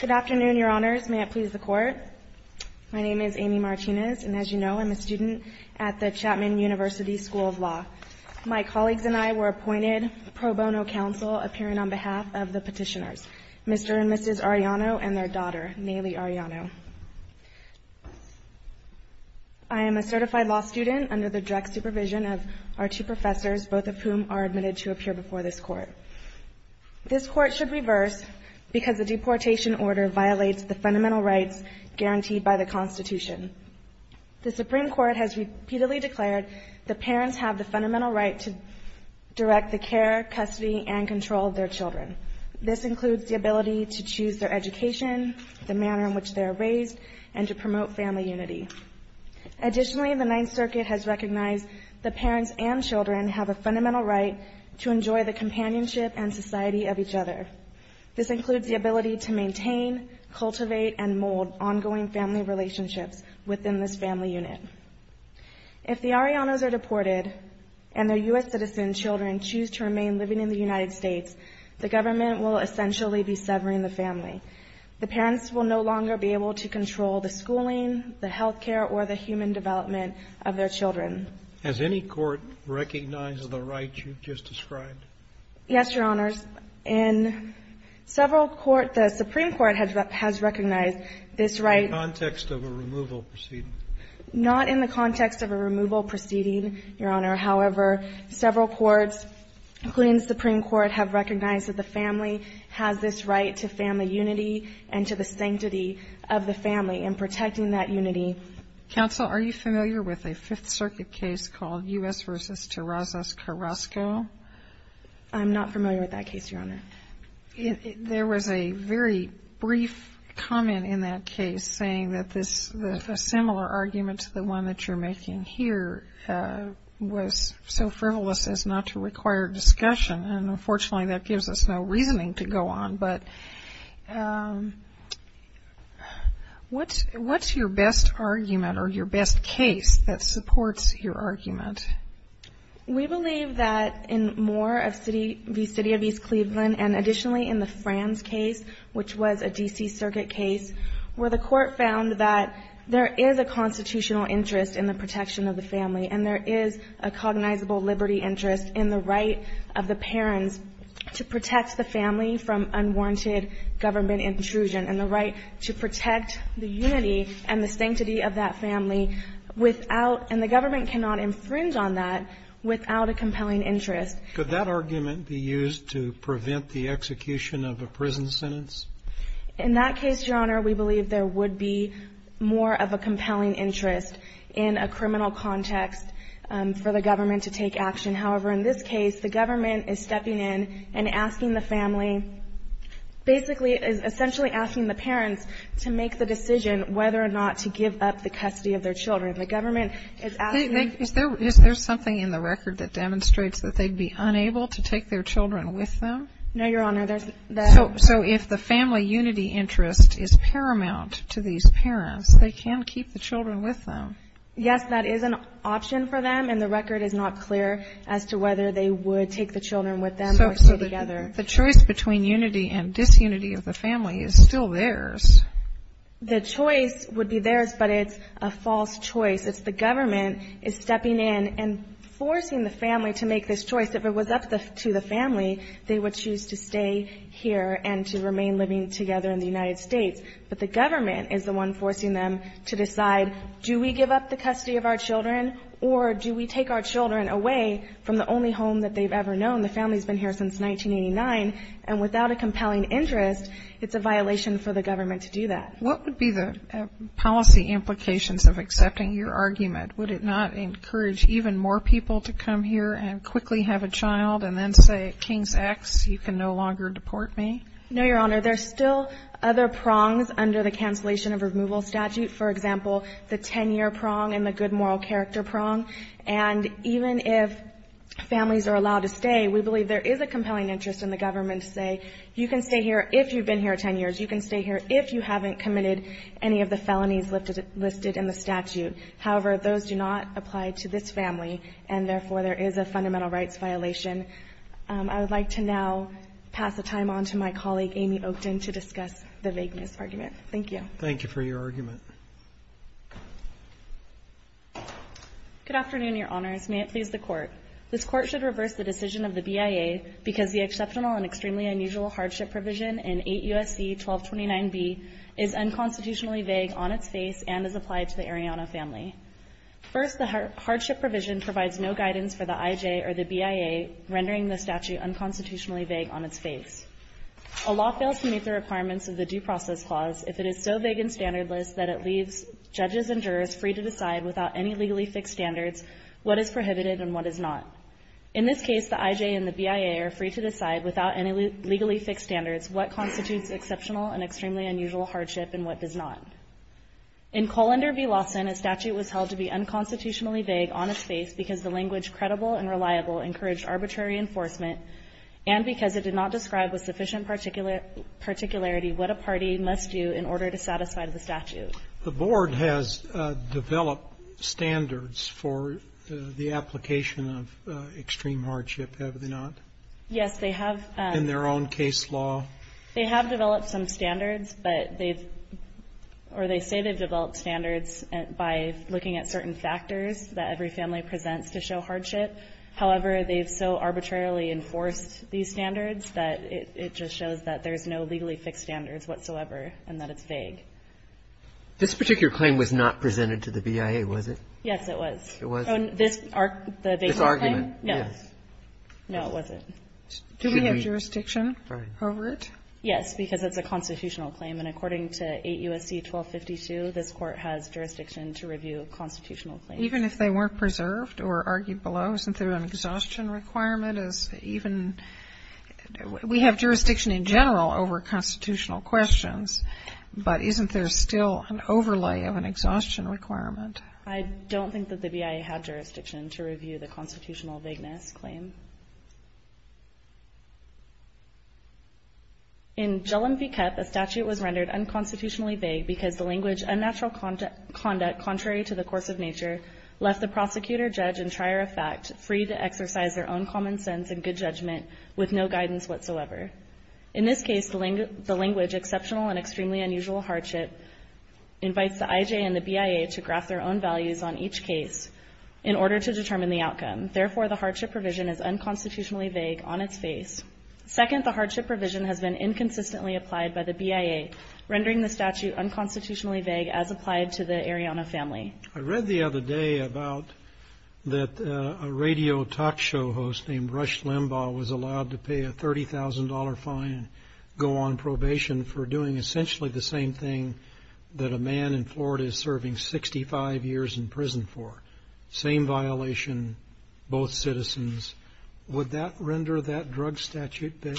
Good afternoon, Your Honors. May it please the Court. My name is Amy Martinez, and as you know, I'm a student at the Chapman University School of Law. My colleagues and I were appointed pro bono counsel appearing on behalf of the petitioners, Mr. and Mrs. Arellano and their daughter, Nayli Arellano. I am a certified law student under the direct supervision of our two professors, both of whom are admitted to appear before this Court. This Court should reverse, because the deportation order violates the fundamental rights guaranteed by the Constitution. The Supreme Court has repeatedly declared that parents have the fundamental right to direct the care, custody, and control of their children. This includes the ability to choose their education, the manner in which they are raised, and to promote family unity. Additionally, the Ninth Circuit has recognized that parents and children have a fundamental right to enjoy the companionship and society of each other. This includes the ability to maintain, cultivate, and mold ongoing family relationships within this family unit. If the Arellanos are deported and their U.S. citizen children choose to remain living in the United States, the government will essentially be severing the family. The parents will no longer be able to control the schooling, the health care, or the human development of their children. Has any court recognized the right you've just described? Yes, Your Honors. In several courts, the Supreme Court has recognized this right. In the context of a removal proceeding. Not in the context of a removal proceeding, Your Honor. However, several courts, including the Supreme Court, have recognized that the family has this right to family unity and to the sanctity of the family, and protecting that unity. Counsel, are you familiar with a Fifth Circuit case called U.S. v. Terrazas Carrasco? I'm not familiar with that case, Your Honor. There was a very brief comment in that case saying that a similar argument to the one that you're making here was so frivolous as not to require discussion, and unfortunately that gives us no reasoning to go on. But what's your best argument or your best case that supports your argument? We believe that in Moore v. City of East Cleveland, and additionally in the Franz case, which was a D.C. Circuit case, where the court found that there is a constitutional interest in the protection of the family, and there is a cognizable liberty interest in the right of the parents to protect the family from unwanted government intrusion, and the right to protect the unity and the sanctity of that family without – and the government cannot infringe on that without a compelling interest. Could that argument be used to prevent the execution of a prison sentence? In that case, Your Honor, we believe there would be more of a compelling interest in a criminal context for the government to take action. However, in this case, the government is stepping in and asking the family – basically is essentially asking the parents to make the decision whether or not to give up the custody of their children. The government is asking – Is there something in the record that demonstrates that they'd be unable to take their children with them? No, Your Honor. There's no – So if the family unity interest is paramount to these parents, they can keep the children with them. Yes, that is an option for them, and the record is not clear as to whether they would take the children with them or stay together. So the choice between unity and disunity of the family is still theirs. The choice would be theirs, but it's a false choice. It's the government is stepping in and forcing the family to make this choice. If it was up to the family, they would choose to stay here and to remain living together in the United States. But the government is the one forcing them to decide, do we give up the custody of our children, or do we take our children away from the only home that they've ever known? The family's been here since 1989, and without a compelling interest, it's a violation for the government to do that. What would be the policy implications of accepting your argument? Would it not encourage even more people to come here and quickly have a child and then say, King's X, you can no longer deport me? No, Your Honor. There's still other prongs under the cancellation of removal statute. For example, the 10-year prong and the good moral character prong. And even if families are allowed to stay, we believe there is a compelling interest in the government to say, you can stay here if you've been here 10 years. You can stay here if you haven't committed any of the felonies listed in the statute. However, those do not apply to this family, and therefore, there is a fundamental rights violation. I would like to now pass the time on to my colleague, Amy Oakton, to discuss the vagueness argument. Thank you. Thank you for your argument. Good afternoon, Your Honors. May it please the Court. This Court should reverse the decision of the BIA because the exceptional and extremely unusual hardship provision in 8 U.S.C. 1229B is unconstitutionally vague on its face and is applied to the Arellano family. First, the hardship provision provides no guidance for the I.J. or the BIA, rendering the statute unconstitutionally vague on its face. A law fails to meet the requirements of the due process clause if it is so vague and standardless that it leaves judges and jurors free to decide without any legally fixed standards what is prohibited and what is not. In this case, the I.J. and the BIA are free to decide without any legally fixed standards what constitutes exceptional and extremely unusual hardship and what does not. In Colander v. Lawson, a statute was held to be unconstitutionally vague on its face because the language, credible and reliable, encouraged arbitrary enforcement and because it did not describe with sufficient particularity what a party must do in order to satisfy the statute. The Board has developed standards for the application of extreme hardship, have they not? Yes, they have. In their own case law? They have developed some standards, but they've, or they say they've developed standards by looking at certain factors that every family presents to show hardship. However, they've so arbitrarily enforced these standards that it just shows that there's no legally fixed standards whatsoever and that it's vague. This particular claim was not presented to the BIA, was it? Yes, it was. It was? This argument? This argument, yes. No. No, it wasn't. Should we have jurisdiction over it? Yes, because it's a constitutional claim. And according to 8 U.S.C. 1252, this court has jurisdiction to review a constitutional claim. Even if they weren't preserved or argued below, isn't there an exhaustion requirement as even, we have jurisdiction in general over constitutional questions, but isn't there still an overlay of an exhaustion requirement? I don't think that the BIA had jurisdiction to review the constitutional vagueness claim. In Jellom v. Kepp, a statute was rendered unconstitutionally vague because the language, unnatural conduct contrary to the course of nature, left the prosecutor, judge, and trier of fact free to exercise their own common sense and good judgment with no guidance whatsoever. In this case, the language exceptional and extremely unusual hardship invites the IJ and the BIA to graph their own values on each case in order to determine the outcome. Therefore, the hardship provision is unconstitutionally vague on its face. Second, the hardship provision has been inconsistently applied by the BIA, rendering the statute unconstitutionally vague as applied to the Arianna family. I read the other day about that a radio talk show host named Rush Limbaugh was allowed to pay a $30,000 fine and go on probation for doing essentially the same thing that a man in Florida is serving 65 years in prison for. Same violation, both citizens. Would that render that drug statute vague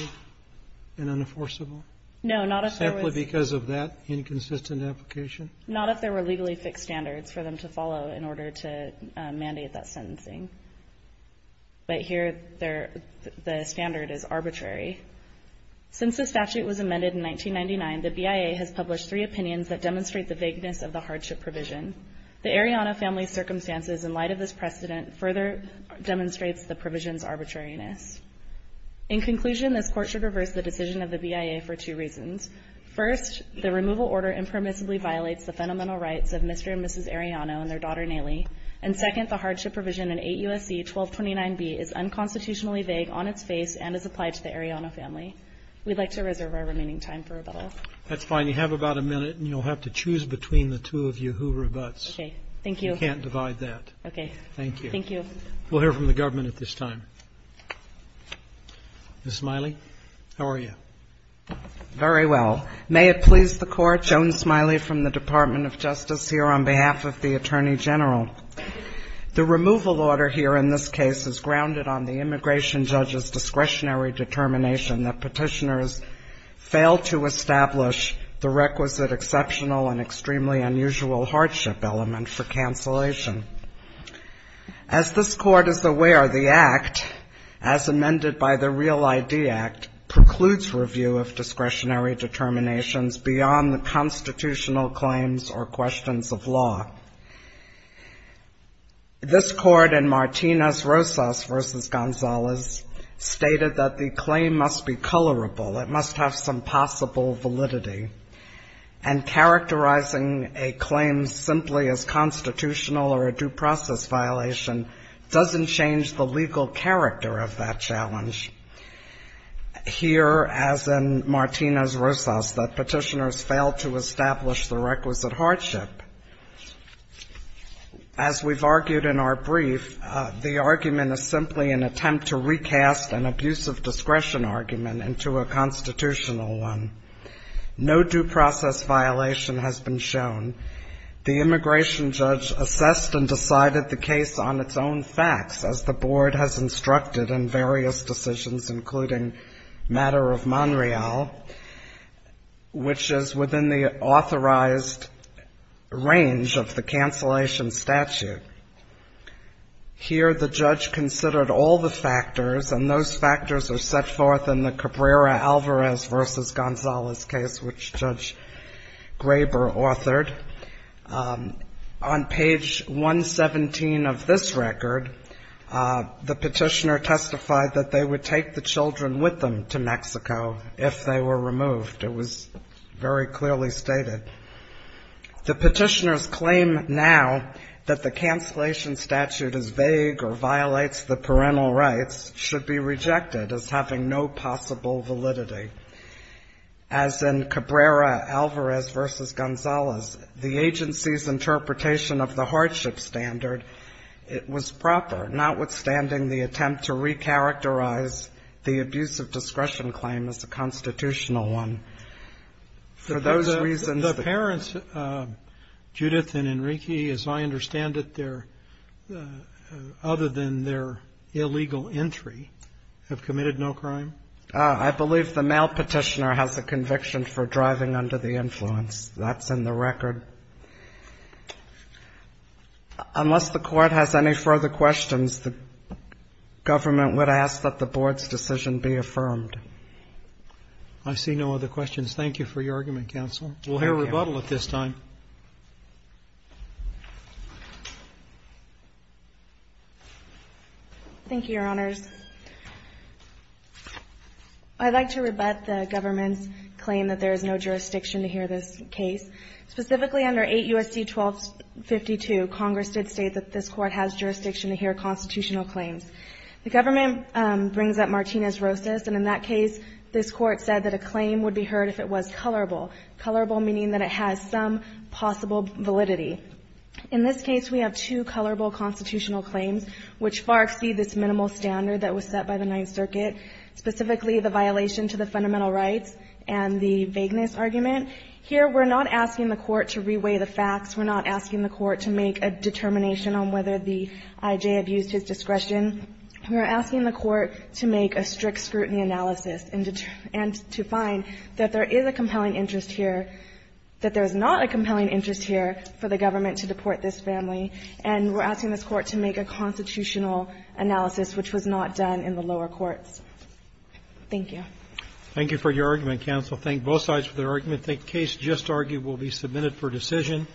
and unenforceable? No, not if there was... Simply because of that inconsistent application? Not if there were legally fixed standards for them to follow in order to mandate that sentencing. But here, the standard is arbitrary. Since the statute was amended in 1999, the BIA has published three opinions that demonstrate the vagueness of the hardship provision. The Arianna family's circumstances in light of this precedent further demonstrates the provision's arbitrariness. In conclusion, this court should reverse the decision of the BIA for two reasons. First, the removal order impermissibly violates the fundamental rights of Mr. and Mrs. Arianna and their daughter, Naly. And second, the hardship provision in 8 U.S.C. 1229B is unconstitutionally vague on its face and is applied to the Arianna family. We'd like to reserve our remaining time for rebuttal. That's fine. You have about a minute and you'll have to choose between the two of you who rebuts. Okay. Thank you. You can't divide that. Okay. Thank you. Thank you. We'll hear from the government at this time. Ms. Smiley, how are you? Very well. May it please the Court, Joan Smiley from the Department of Justice here on behalf of the Attorney General. The removal order here in this case is grounded on the immigration judge's discretionary determination that petitioners fail to establish the requisite exceptional and extremely unusual hardship element for cancellation. As this Court is aware, the Act, as amended by the Real ID Act, precludes review of discretionary determinations beyond the constitutional claims or questions of law. This Court in Martinez-Rosas v. Gonzales stated that the claim must be colorable. It must have some possible validity. And characterizing a claim simply as constitutional or a due process violation doesn't change the legal character of that challenge. Here, as in Martinez-Rosas, that petitioners fail to establish the requisite hardship. As we've argued in our brief, the argument is simply an attempt to recast an abusive discretion argument into a constitutional one. No due process violation has been shown. The immigration judge assessed and decided the case on its own facts, as the Board has instructed in various decisions, including matter of Monreal, which is within the authorized range of the cancellation statute. Here, the judge considered all the factors, and those factors are set forth in the Cabrera-Alvarez v. Gonzales case, which Judge Graber authored. On page 117 of this record, the petitioner testified that they would take the children with them to Mexico if they were removed. It was very clearly stated. The petitioner's claim now that the cancellation statute is vague or violates the parental rights should be rejected as having no possible validity. As in Cabrera-Alvarez v. Gonzales, the agency's interpretation of the hardship standard, it was proper, notwithstanding the attempt to recharacterize the abusive discretion claim as a constitutional one. For those reasons, the parents, Judith and Enrique, as I understand it, they're other than their illegal entry, have committed no crime? I believe the male petitioner has a conviction for driving under the influence. That's in the record. Unless the Court has any further questions, the government would ask that the Board's decision be affirmed. I see no other questions. Thank you for your argument, counsel. Thank you. We'll hear rebuttal at this time. Thank you, Your Honors. I'd like to rebut the government's claim that there is no jurisdiction to hear this case. Specifically, under 8 U.S.C. 1252, Congress did state that this Court has jurisdiction to hear constitutional claims. The government brings up Martinez-Rosas, and in that case, this Court said that a claim would be heard if it was colorable. Colorable meaning that it has some possible validity. In this case, we have two colorable constitutional claims, which far exceed this minimal standard that was set by the Ninth Circuit, specifically the violation to the fundamental rights and the vagueness argument. Here, we're not asking the Court to reweigh the facts. We're not asking the Court to make a determination on whether the I.J. abused his discretion. We're asking the Court to make a strict scrutiny analysis and to find that there is a compelling interest here, that there's not a compelling interest here for the government to deport this family, and we're asking this Court to make a constitutional analysis, which was not done in the lower courts. Thank you. Thank you for your argument, counsel. Thank both sides for their argument. The case just argued will be submitted for decision.